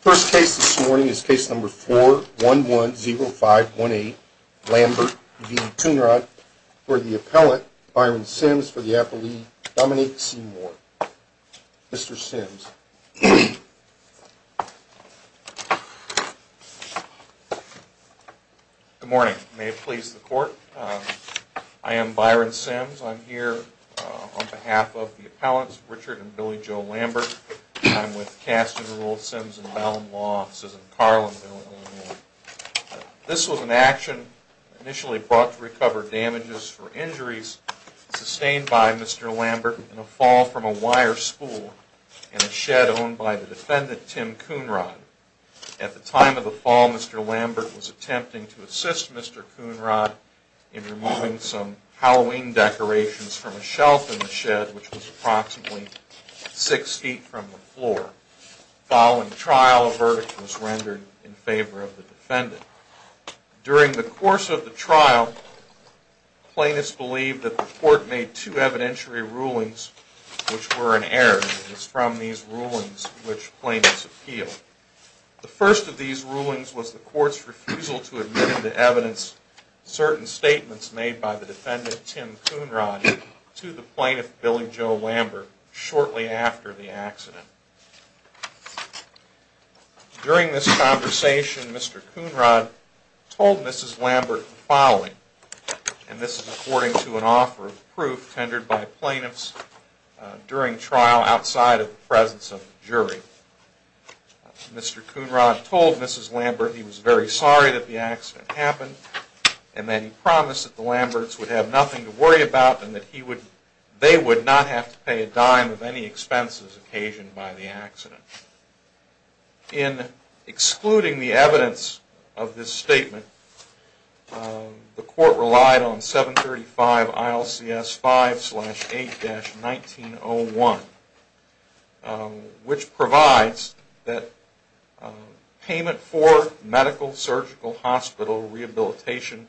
First case this morning is case number 4110518 Lambert v. Coonrod for the appellant Byron Sims for the apple lead, Dominic Seymour. Mr. Sims. Good morning. May it please the court. I am Byron Sims. I'm here on behalf of the appellants Richard and Billy Joe Lambert. I'm with Cast and Rule Sims and Bell and Law Offices in Carlinville, Illinois. This was an action initially brought to recover damages for injuries sustained by Mr. Lambert in a fall from a wire spool in a shed owned by the defendant Tim Coonrod. At the time of the fall, Mr. Lambert was attempting to assist Mr. Coonrod in removing some Halloween decorations from a shelf in the shed which was approximately six feet from the floor. Following trial, a verdict was rendered in favor of the defendant. During the course of the trial, plaintiffs believed that the court made two evidentiary rulings which were inerrant. It was from these rulings which plaintiffs appealed. The first of these rulings was the court's refusal to admit into evidence certain statements made by the defendant Tim Coonrod to the plaintiff, Billy Joe Lambert, shortly after the accident. During this conversation, Mr. Coonrod told Mrs. Lambert the following, and this is according to an offer of proof tendered by plaintiffs during trial outside of the presence of the Mr. Coonrod told Mrs. Lambert he was very sorry that the accident happened and that he promised that the Lamberts would have nothing to worry about and that he would, they would not have to pay a dime of any expenses occasioned by the accident. In excluding the evidence of this statement, the court relied on 735 ILCS 5-8-1901 which provides that payment for medical, surgical, hospital, rehabilitation,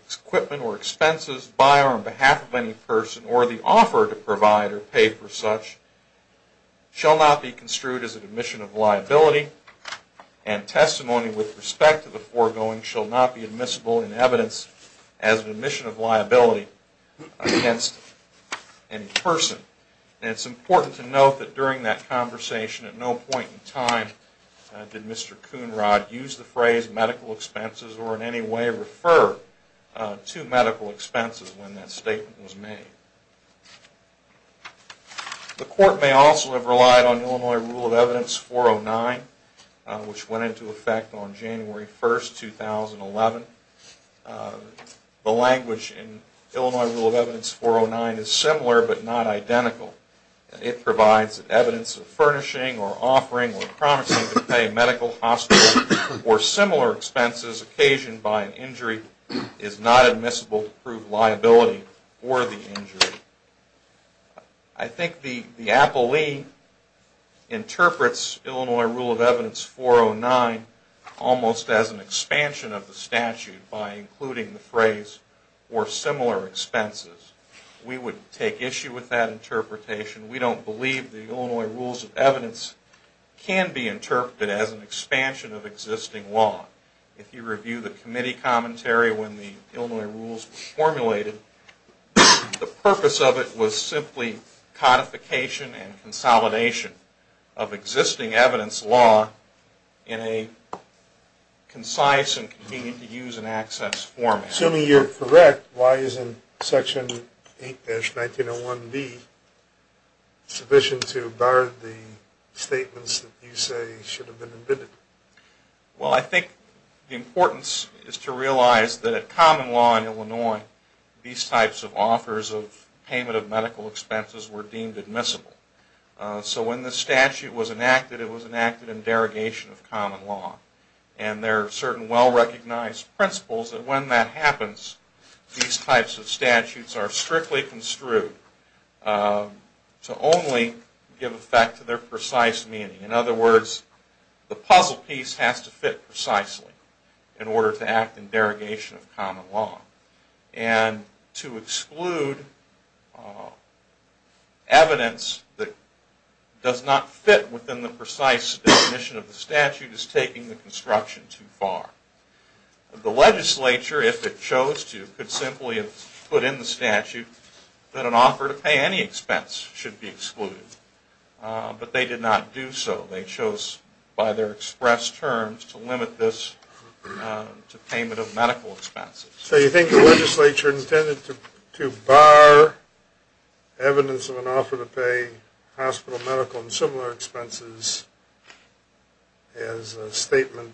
equipment or expenses by or on behalf of any person or the offer to provide or pay for such shall not be construed as an admission of liability and testimony with respect to the foregoing shall not be admissible in evidence as an admission of liability against any person. And it's important to note that during that conversation at no point in time did Mr. Coonrod use the phrase medical expenses or in any way refer to medical expenses when that statement was made. The court may also have relied on Illinois Rule of Evidence 409 which went into effect on January 1st, 2011. The language in Illinois Rule of Evidence 409 is similar but not identical. It provides evidence of furnishing or offering or promising to pay medical, hospital or similar expenses occasioned by an injury is not admissible to prove liability for the injury. I think the appellee interprets Illinois Rule of Evidence 409 almost as an expansion of the statute by including the phrase or similar expenses. We would take issue with that interpretation. We don't believe the Illinois Rules of Evidence can be interpreted as an expansion of existing law. If you review the committee commentary when the Illinois Rules were formulated, the purpose of it was simply codification and consolidation of existing evidence law in a concise and convenient to use and access format. Assuming you're correct, why isn't Section 8-1901B sufficient to bar the statements that you say should have been admitted? Well, I think the importance is to realize that common law in Illinois, these types of offers of payment of medical expenses were deemed admissible. So when the statute was enacted, it was enacted in derogation of common law. And there are certain well-recognized principles that when that happens, these types of statutes are strictly construed to only give effect to their precise meaning. In other words, the puzzle piece has to fit precisely in order to act in derogation of common law. And to exclude evidence that does not fit within the precise definition of the statute is taking the construction too far. The legislature, if it chose to, could simply have put in the statute that an offer to pay any expense should be excluded. But they did not do so. They chose, by their express terms, to limit this to payment of medical expenses. So you think the legislature intended to bar evidence of an offer to pay hospital, medical, and similar expenses as a statement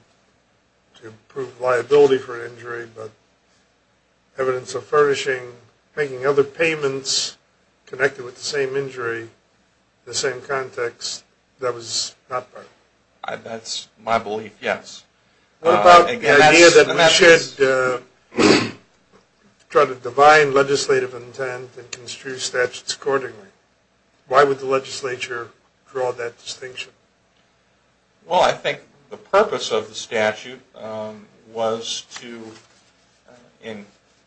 to prove liability for an injury, but evidence of furnishing other payments connected with the same injury in the same context? That was not part of it? That's my belief, yes. What about the idea that we should try to divine legislative intent and construe statutes accordingly? Why would the legislature draw that distinction? Well, I think the purpose of the statute was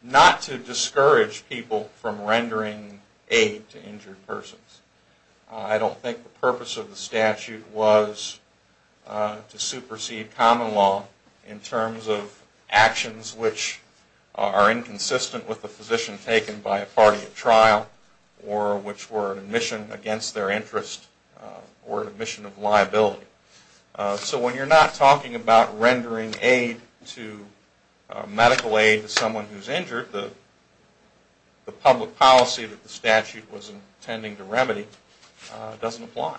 not to discourage people from rendering aid to injured persons. I don't think the purpose of the statute was to supersede common law in terms of actions which are inconsistent with the position taken by a party at trial or which were an admission against their interest or an admission of liability. So when you're not talking about rendering medical aid to someone who's injured, the public policy that the statute was intending to remedy doesn't apply.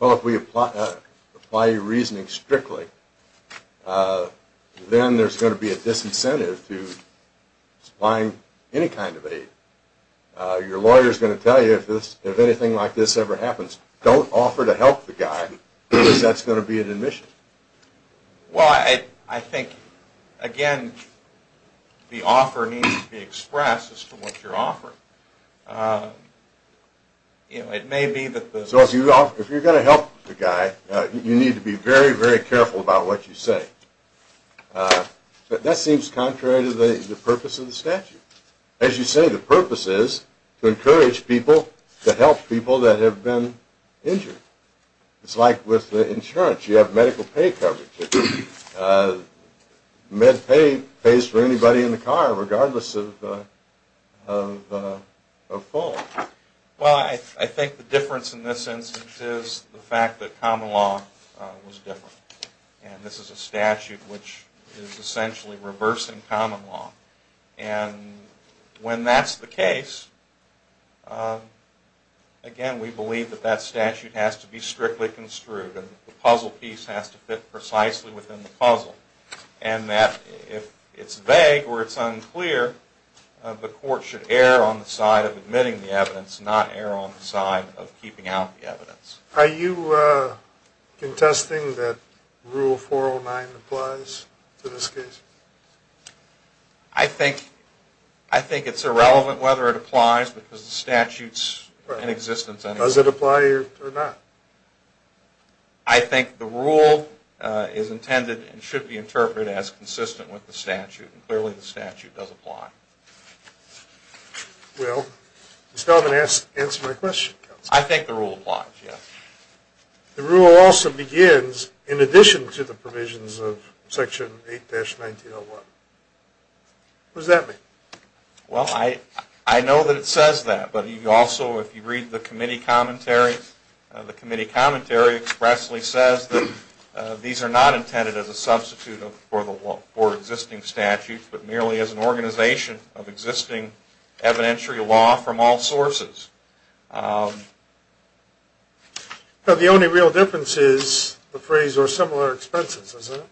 Well, if we apply your reasoning strictly, then there's going to be a disincentive to supplying any kind of aid. Your lawyer's going to tell you if anything like this ever happens, don't offer to help the guy because that's going to be an admission. Well, I think, again, the offer needs to be expressed as to what you're offering. So if you're going to help the guy, you need to be very, very careful about what you say. But that seems contrary to the purpose of the statute. As you say, the purpose is to encourage people to help people that have been injured. It's like with the insurance. You have medical pay coverage. Med pay pays for anybody in the car regardless of fall. Well, I think the difference in this instance is the fact that common law was different. And this is a statute which is essentially reversing common law. And when that's the precisely within the puzzle. And that if it's vague or it's unclear, the court should err on the side of admitting the evidence, not err on the side of keeping out the evidence. Are you contesting that Rule 409 applies to this case? I think it's irrelevant whether it applies because the statute's in existence anyway. Does it apply or not? I think the rule is intended and should be interpreted as consistent with the statute. And clearly the statute does apply. Well, does that answer my question? I think the rule applies, yes. The rule also begins in addition to the provisions of Section 8-1901. What does that mean? Well, I know that it says that. But also if you read the committee commentary, the committee commentary expressly says that these are not intended as a substitute for existing statutes but merely as an organization of existing evidentiary law from all sources. But the only real difference is the phrase, or similar expenses, isn't it?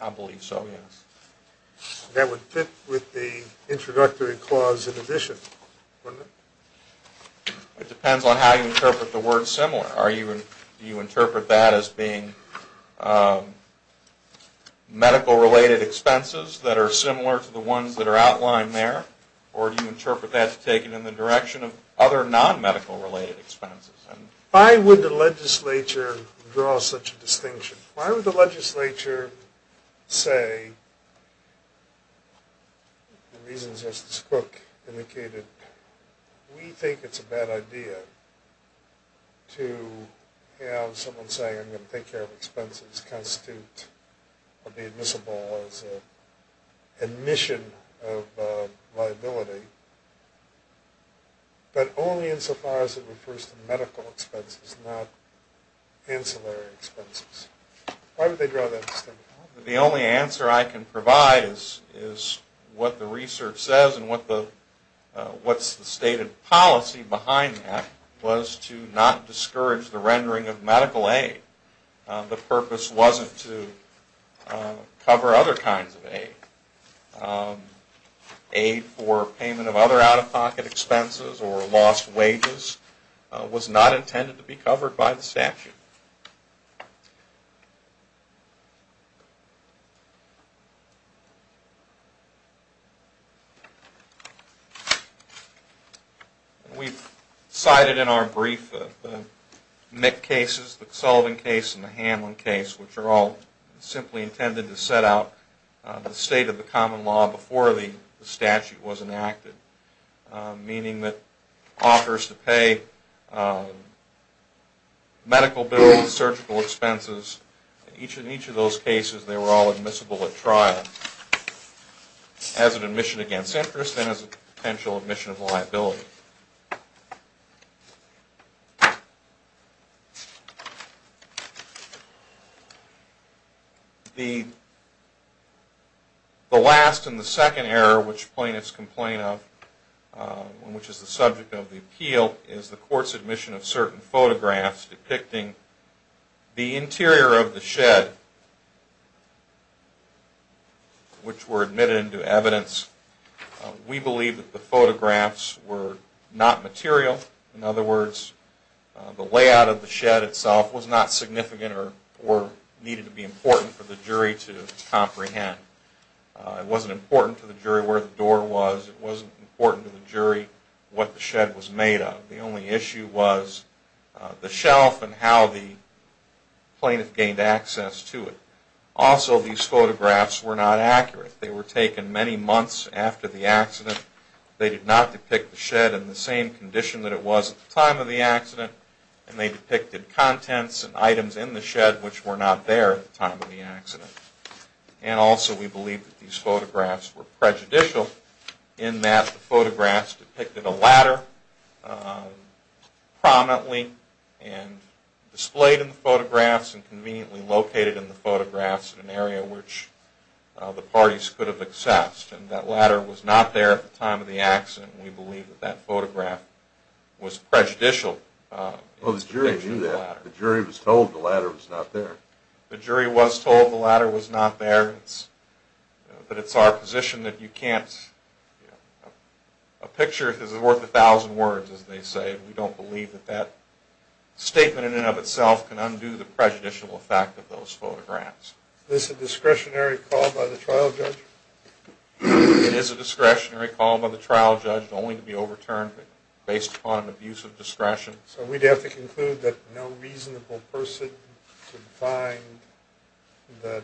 I believe so, yes. That would fit with the introductory clause in addition, wouldn't it? It depends on how you interpret the word similar. Do you interpret that as being medical-related expenses that are similar to the ones that are outlined there? Or do you interpret that to take it in the direction of other non-medical-related expenses? Why would the legislature draw such a distinction? Why would the legislature say the reasons, as this book indicated, we think it's a bad idea to have someone say, I'm going to take care of expenses, constitute or be admissible as an admission of liability, but only insofar as it refers to medical expenses, not ancillary expenses? Why would they draw that distinction? The only answer I can provide is what the research says and what's the stated policy behind that was to not discourage the rendering of medical aid. The purpose wasn't to cover other kinds of aid. Aid for payment of other out-of-pocket expenses or lost wages was not intended to be covered by the statute. We've cited in our brief the Mick cases, the Sullivan case and the Hamlin case, which are all simply intended to set out the state of the common law before the statute was enacted, meaning that offers to pay medical bills, surgical expenses, in each of those cases they were all admissible at trial as an admission against interest and as a potential admission of liability. The last and the second error which plaintiffs complain of, which is the subject of the appeal, is the court's admission of certain photographs depicting the interior of the shed, which were admitted into evidence. We believe that the photographs were not material. In other words, the layout of the shed itself was not significant or needed to be important for the jury to comprehend. It wasn't important to the jury where the door was. It wasn't important to the jury what the shed was made of. The only issue was the shelf and how the plaintiff gained access to it. Also, these photographs were not accurate. They were taken many months after the accident. They did not depict the shed in the same condition that it was at the time of the accident, and they depicted contents and items in the shed which were not there at the time of the accident. And also, we believe that these photographs were prejudicial in that the photographs depicted a ladder prominently and displayed in the photographs and conveniently located in the photographs in an area which the parties could have accessed. And that ladder was not there at the time of the accident. We believe that that photograph was prejudicial. Well, the jury knew that. The jury was told the ladder was not there. The jury was told the ladder was not there. But it's our position that you can't... A picture is worth a thousand words, as they say. We don't believe that that statement in and of itself can undo the prejudicial effect of those photographs. Is this a discretionary call by the trial judge? It is a discretionary call by the trial judge, only to be overturned based upon an abuse of discretion. So we'd have to conclude that no reasonable person could find that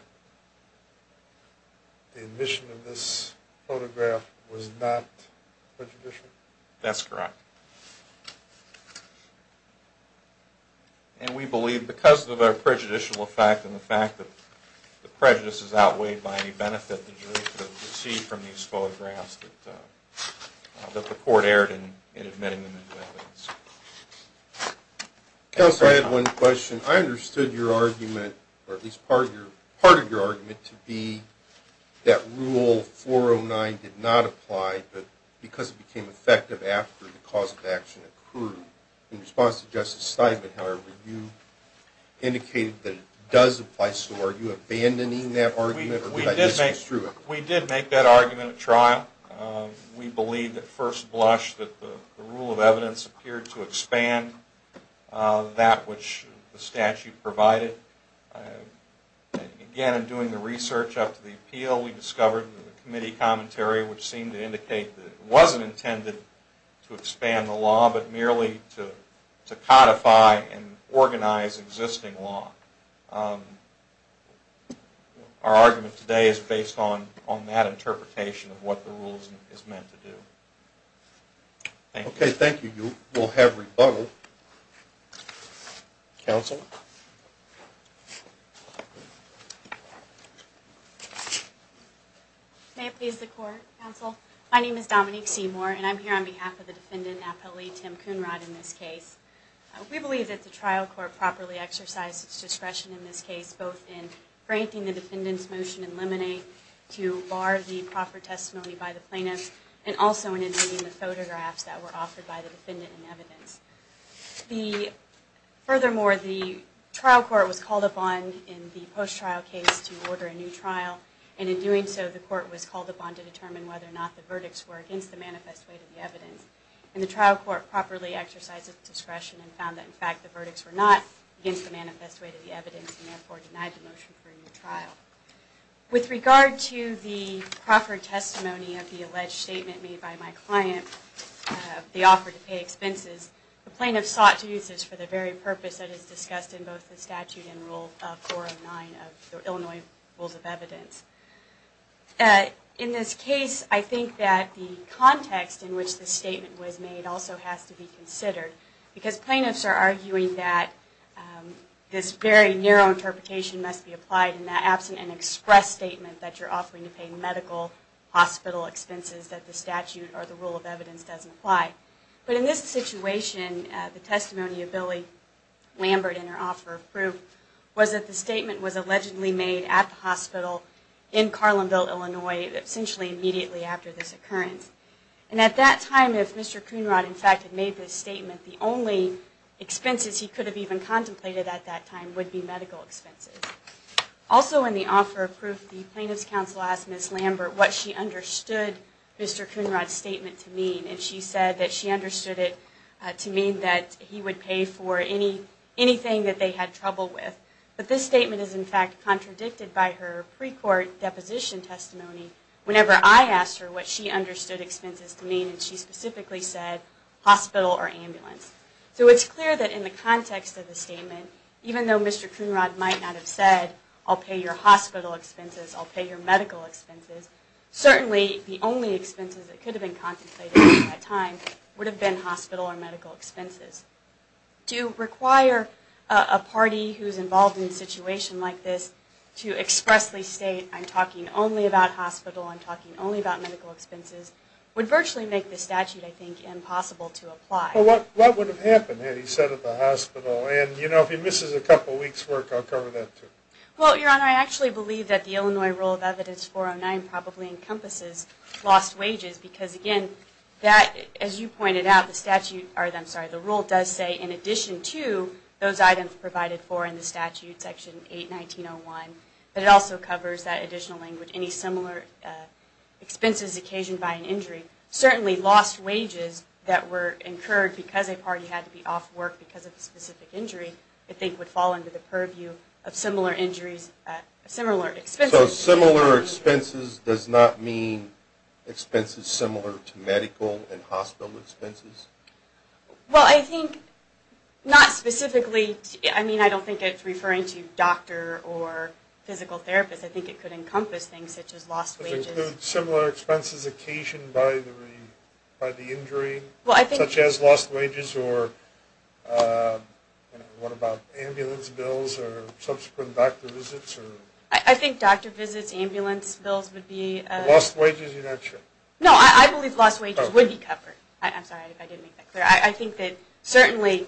the admission of this photograph was not prejudicial? That's correct. And we believe, because of the prejudicial effect and the fact that the prejudice is outweighed by any benefit that the jury could have received from these photographs, that the court erred in admitting them into evidence. Counsel, I had one question. I understood your argument, or at least part of your argument, to be that Rule 409 did not apply, but because it became effective after the cause of action accrued. In response to Justice Steinman, however, you indicated that it does apply. So are you abandoning that argument, or did I misconstrue it? We did make that argument at trial. We believe, at first blush, that the rule of evidence appeared to expand that which the statute provided. Again, in doing the research after the appeal, we discovered in the committee commentary which seemed to indicate that it wasn't intended to expand the law, but merely to codify and organize existing law. Our argument today is based on that interpretation of what the rule is meant to do. Okay, thank you. We'll have rebuttal. Counsel? May it please the Court, Counsel? My name is Dominique Seymour, and I'm here on behalf of the defendant, Appellee Tim Coonrod, in this case. We believe that the trial court properly exercised its discretion in this case, both in granting the defendant's motion in limine to bar the proper testimony by the plaintiff, and also in including the photographs that were offered by the defendant in evidence. Furthermore, the trial court was called upon in the post-trial case to order a new trial, and in doing so, the court was called upon to determine whether or not the verdicts were against the manifest weight of the evidence. And the trial court properly exercised its discretion and found that, in fact, the verdicts were not against the manifest weight of the evidence, and therefore denied the motion for a new trial. With regard to the proper testimony of the alleged statement made by my client of the offer to pay expenses, the plaintiff sought to use this for the very purpose that is discussed in both the statute and Rule 409 of the Illinois Rules of Evidence. In this case, I think that the context in which the statement was made also has to be considered, because plaintiffs are arguing that this very narrow interpretation must be applied in the absence of an express statement that you're offering to pay medical hospital expenses that the statute or the Rule of Evidence doesn't apply. But in this situation, the testimony of Billy Lambert, in her offer of proof, was that the statement was allegedly made at the hospital in Carlinville, Illinois, essentially immediately after this occurrence. And at that time, if Mr. Coonrod, in fact, had made this statement, the only expenses he could have even contemplated at that time would be medical expenses. Also in the offer of proof, the plaintiff's counsel asked Ms. Lambert what she understood Mr. Coonrod's statement to mean, and she said that she understood it to mean that he would pay for anything that they had trouble with. But this statement is, in fact, contradicted by her pre-court deposition testimony. Whenever I asked her what she understood expenses to mean, she specifically said hospital or ambulance. So it's clear that in the context of the statement, even though Mr. Coonrod might not have said, I'll pay your hospital expenses, I'll pay your medical expenses, certainly the only expenses that could have been contemplated at that time would have been hospital or medical expenses. To require a party who's involved in a situation like this to expressly state, I'm talking only about hospital, I'm talking only about medical expenses, would virtually make the statute, I think, impossible to apply. Well, what would have happened had he said at the hospital? And, you know, if he misses a couple weeks' work, I'll cover that too. Well, Your Honor, I actually believe that the Illinois Rule of Evidence 409 probably encompasses lost wages, because, again, as you pointed out, the rule does say in addition to those items provided for in the statute, Section 819.01, but it also covers that additional language, any similar expenses occasioned by an injury. Certainly lost wages that were incurred because a party had to be off work because of a specific injury, I think, would fall under the purview of similar expenses. So similar expenses does not mean expenses similar to medical and hospital expenses? Well, I think not specifically. I mean, I don't think it's referring to doctor or physical therapist. I think it could encompass things such as lost wages. Does it include similar expenses occasioned by the injury, such as lost wages, or what about ambulance bills or subsequent doctor visits? I think doctor visits, ambulance bills would be... Lost wages, you're not sure? No, I believe lost wages would be covered. I'm sorry if I didn't make that clear. I think that certainly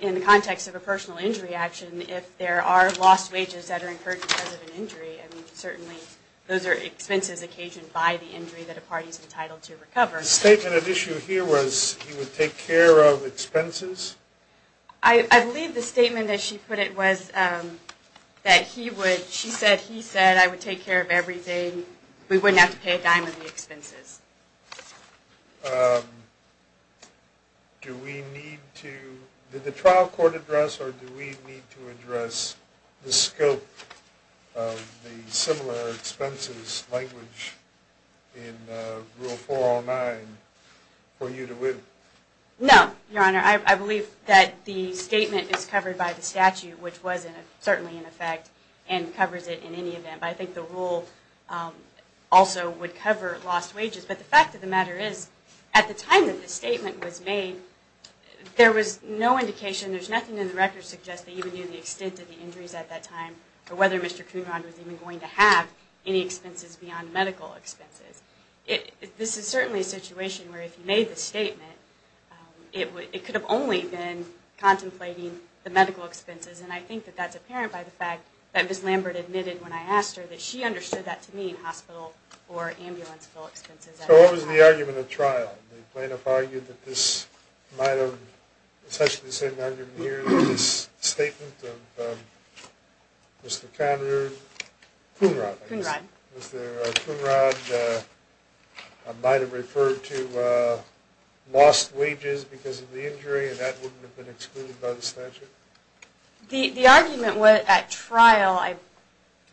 in the context of a personal injury action, if there are lost wages that are incurred because of an injury, I mean, certainly those are expenses occasioned by the injury that a party is entitled to recover. The statement at issue here was he would take care of expenses? I believe the statement, as she put it, was that he would... She said, he said, I would take care of everything. We wouldn't have to pay a dime of the expenses. Do we need to... Did the trial court address or do we need to address the scope of the similar expenses language in Rule 409 for you to win? No, Your Honor. I believe that the statement is covered by the statute, which was certainly in effect, and covers it in any event. But I think the rule also would cover lost wages. But the fact of the matter is, at the time that the statement was made, there was no indication, there's nothing in the record suggesting even in the extent of the injuries at that time, or whether Mr. Coonrod was even going to have any expenses beyond medical expenses. This is certainly a situation where if you made the statement, it could have only been contemplating the medical expenses, and I think that that's apparent by the fact that Ms. Lambert admitted when I asked her, that she understood that to mean hospital or ambulance bill expenses. So what was the argument at trial? The plaintiff argued that this might have... Essentially the same argument here in this statement of Mr. Coonrod. Was there Coonrod, I might have referred to lost wages because of the injury, and that wouldn't have been excluded by the statute? The argument at trial,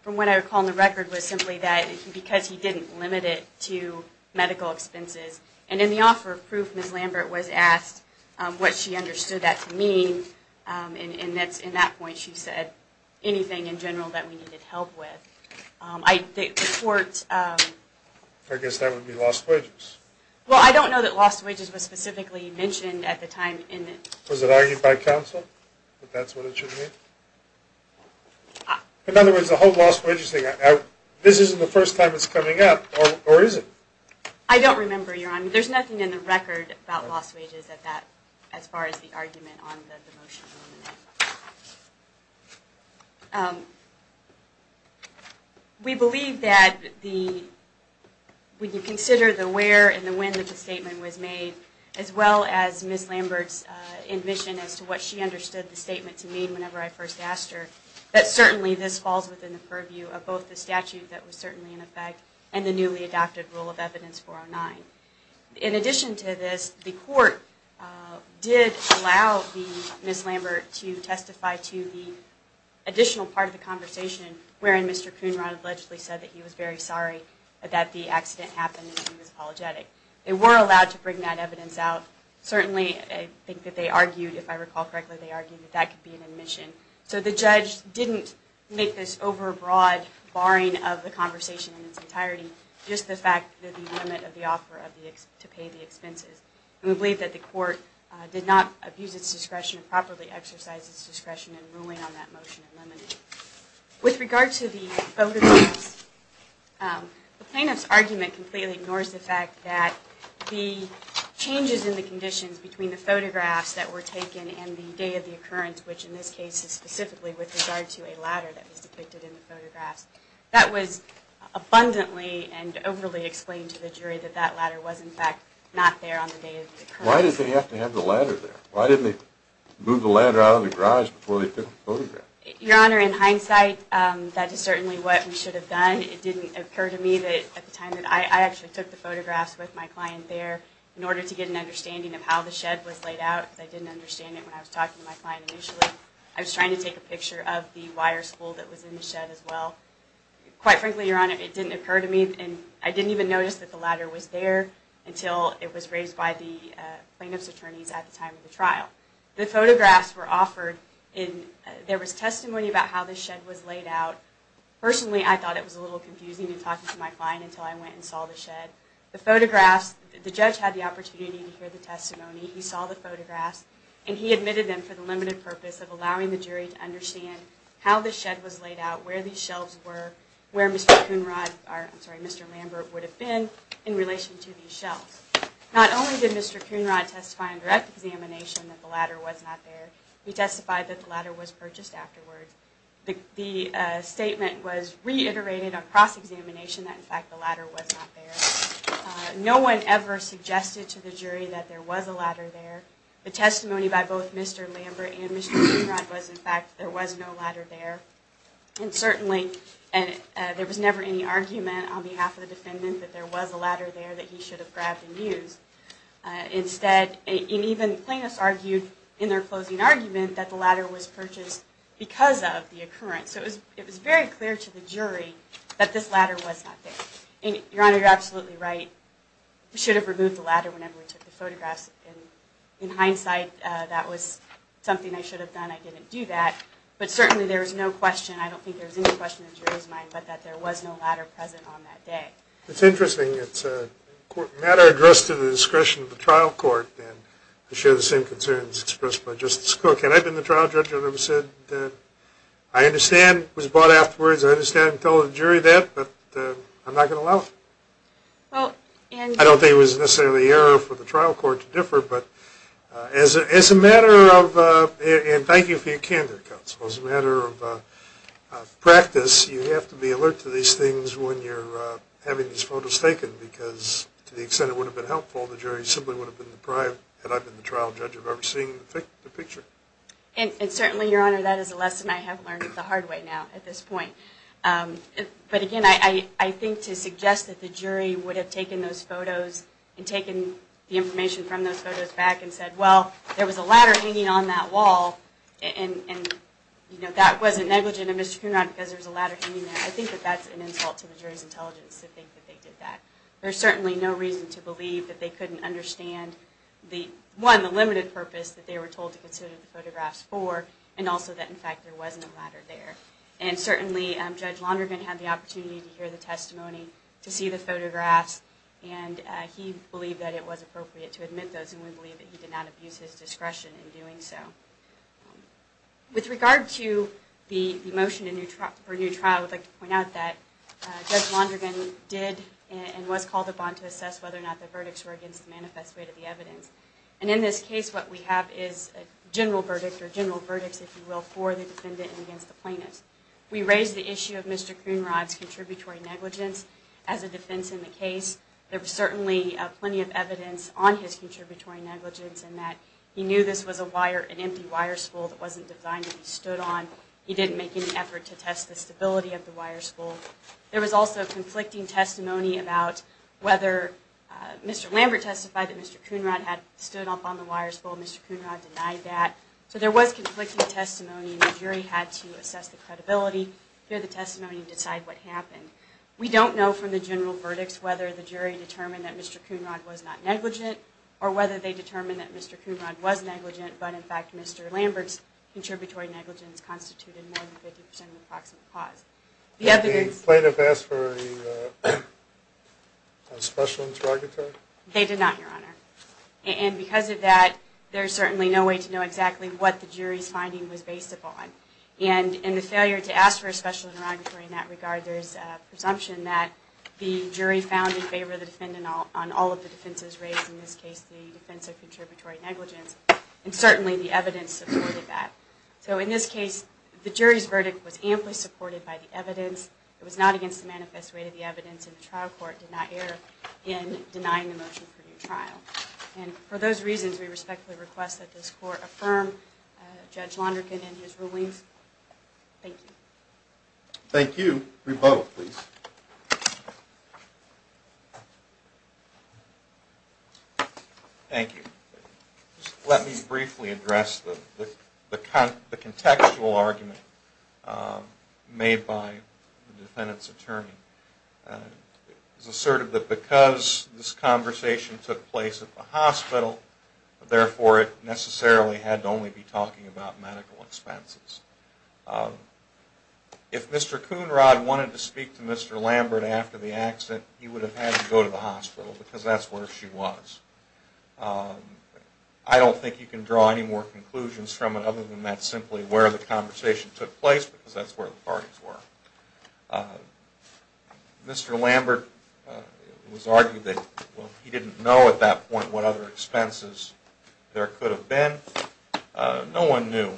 from what I recall in the record, was simply that because he didn't limit it to medical expenses, and in the offer of proof, Ms. Lambert was asked what she understood that to mean, and in that point she said anything in general that we needed help with. The court... I guess that would be lost wages. Well, I don't know that lost wages was specifically mentioned at the time. Was it argued by counsel that that's what it should mean? In other words, the whole lost wages thing, this isn't the first time it's coming up, or is it? I don't remember, Your Honor. There's nothing in the record about lost wages as far as the argument on the motion to eliminate. We believe that when you consider the where and the when that the statement was made, as well as Ms. Lambert's admission as to what she understood the statement to mean whenever I first asked her, that certainly this falls within the purview of both the statute that was certainly in effect and the newly adopted rule of evidence 409. In addition to this, the court did allow Ms. Lambert to testify to the additional part of the conversation wherein Mr. Coonrod allegedly said that he was very sorry that the accident happened and he was apologetic. They were allowed to bring that evidence out. Certainly, I think that they argued, if I recall correctly, they argued that that could be an admission. So the judge didn't make this over-broad barring of the conversation in its entirety, just the fact that the limit of the offer to pay the expenses. And we believe that the court did not abuse its discretion or properly exercise its discretion in ruling on that motion to eliminate. With regard to the photographs, the plaintiff's argument completely ignores the fact that the changes in the conditions between the photographs that were taken and the day of the occurrence, which in this case is specifically with regard to a ladder that was depicted in the photographs. That was abundantly and overly explained to the jury that that ladder was in fact not there on the day of the occurrence. Why did they have to have the ladder there? Why didn't they move the ladder out of the garage before they took the photographs? Your Honor, in hindsight, that is certainly what we should have done. It didn't occur to me that at the time that I actually took the photographs with my client there in order to get an understanding of how the shed was laid out, because I didn't understand it when I was talking to my client initially. I was trying to take a picture of the wire spool that was in the shed as well. Quite frankly, Your Honor, it didn't occur to me, and I didn't even notice that the ladder was there until it was raised by the plaintiff's attorneys at the time of the trial. The photographs were offered, and there was testimony about how the shed was laid out. Personally, I thought it was a little confusing in talking to my client until I went and saw the shed. The photographs, the judge had the opportunity to hear the testimony. He saw the photographs, and he admitted them for the limited purpose of allowing the jury to understand how the shed was laid out, where these shelves were, where Mr. Lambert would have been in relation to these shelves. Not only did Mr. Coonrod testify in direct examination that the ladder was not there, he testified that the ladder was purchased afterwards. The statement was reiterated across examination that, in fact, the ladder was not there. No one ever suggested to the jury that there was a ladder there. The testimony by both Mr. Lambert and Mr. Coonrod was, in fact, there was no ladder there. And certainly, there was never any argument on behalf of the defendant that there was a ladder there that he should have grabbed and used. Instead, even plaintiffs argued in their closing argument that the ladder was purchased because of the occurrence. So it was very clear to the jury that this ladder was not there. Your Honor, you're absolutely right. We should have removed the ladder whenever we took the photographs. In hindsight, that was something I should have done. I didn't do that. But certainly, there was no question, I don't think there was any question in the jury's mind, but that there was no ladder present on that day. It's interesting. It's a matter addressed to the discretion of the trial court, and I share the same concerns expressed by Justice Cook. And I've been the trial judge. I've never said that I understand it was bought afterwards. I understand and tell the jury that, but I'm not going to allow it. I don't think it was necessarily the error for the trial court to differ, but as a matter of, and thank you for your candor, counsel, as a matter of practice, you have to be alert to these things when you're having these photos taken because to the extent it would have been helpful, the jury simply would have been deprived had I been the trial judge of ever seeing the picture. And certainly, Your Honor, that is a lesson I have learned the hard way now at this point. But again, I think to suggest that the jury would have taken those photos and taken the information from those photos back and said, well, there was a ladder hanging on that wall, and that wasn't negligent of Mr. Cunard because there was a ladder hanging there, I think that that's an insult to the jury's intelligence to think that they did that. There's certainly no reason to believe that they couldn't understand, one, the limited purpose that they were told to consider the photographs for, and also that, in fact, there wasn't a ladder there. And certainly Judge Londrigan had the opportunity to hear the testimony, to see the photographs, and he believed that it was appropriate to admit those, and we believe that he did not abuse his discretion in doing so. With regard to the motion for a new trial, I would like to point out that Judge Londrigan did and was called upon to assess whether or not the verdicts were against the manifest weight of the evidence. And in this case, what we have is a general verdict, or general verdicts, if you will, for the defendant and against the plaintiff. We raised the issue of Mr. Cunard's contributory negligence as a defense in the case. There was certainly plenty of evidence on his contributory negligence in that he knew this was a wire, an empty wire spool that wasn't designed to be stood on. He didn't make any effort to test the stability of the wire spool. There was also conflicting testimony about whether Mr. Lambert testified that Mr. Cunard had stood up on the wire spool. Mr. Cunard denied that. So there was conflicting testimony, and the jury had to assess the credibility, hear the testimony, and decide what happened. We don't know from the general verdicts whether the jury determined that Mr. Cunard was not negligent or whether they determined that Mr. Cunard was negligent, but in fact Mr. Lambert's contributory negligence constituted more than 50% of the approximate cause. Did the plaintiff ask for a special interrogatory? They did not, Your Honor. And because of that, there's certainly no way to know exactly what the jury's finding was based upon. And in the failure to ask for a special interrogatory in that regard, there's a presumption that the jury found in favor of the defendant on all of the defenses raised, in this case the defense of contributory negligence, and certainly the evidence supported that. So in this case, the jury's verdict was amply supported by the evidence. It was not against the manifest rate of the evidence, and the trial court did not err in denying the motion for new trial. And for those reasons, we respectfully request that this court affirm Judge Lonergan and his rulings. Thank you. Thank you. Rebo, please. Thank you. Let me briefly address the contextual argument made by the defendant's attorney. It was asserted that because this conversation took place at the hospital, therefore it necessarily had to only be talking about medical expenses. If Mr. Coonrod wanted to speak to Mr. Lambert after the accident, he would have had to go to the hospital because that's where she was. I don't think you can draw any more conclusions from it other than that's simply where the conversation took place because that's where the parties were. Mr. Lambert was argued that he didn't know at that point what other expenses there could have been. No one knew.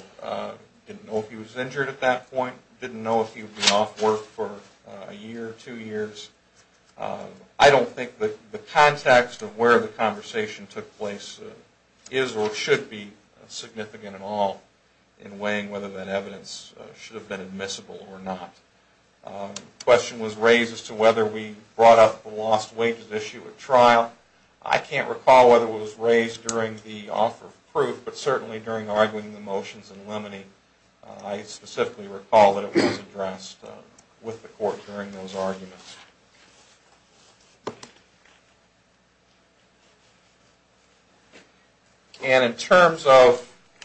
Didn't know if he was injured at that point. Didn't know if he would be off work for a year, two years. I don't think the context of where the conversation took place is or should be significant at all in weighing whether that evidence should have been admissible or not. The question was raised as to whether we brought up the lost wages issue at trial. I can't recall whether it was raised during the offer of proof, but certainly during arguing the motions and limiting. I specifically recall that it was addressed with the court during those arguments. And in terms of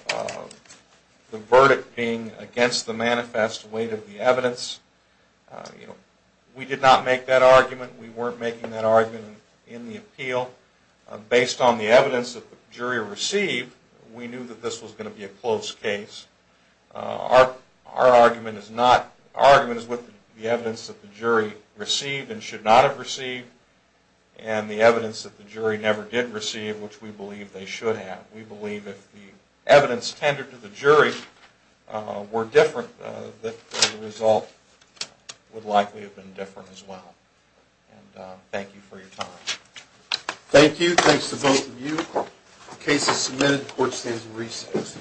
the verdict being against the manifest weight of the evidence, we did not make that argument. We weren't making that argument in the appeal. Based on the evidence that the jury received, we knew that this was going to be a close case. Our argument is with the evidence that the jury received and should not have received and the evidence that the jury never did receive, which we believe they should have. We believe if the evidence tendered to the jury were different, the result would likely have been different as well. Thank you for your time. Thank you. Thanks to both of you. The case is submitted. The court stands in recess.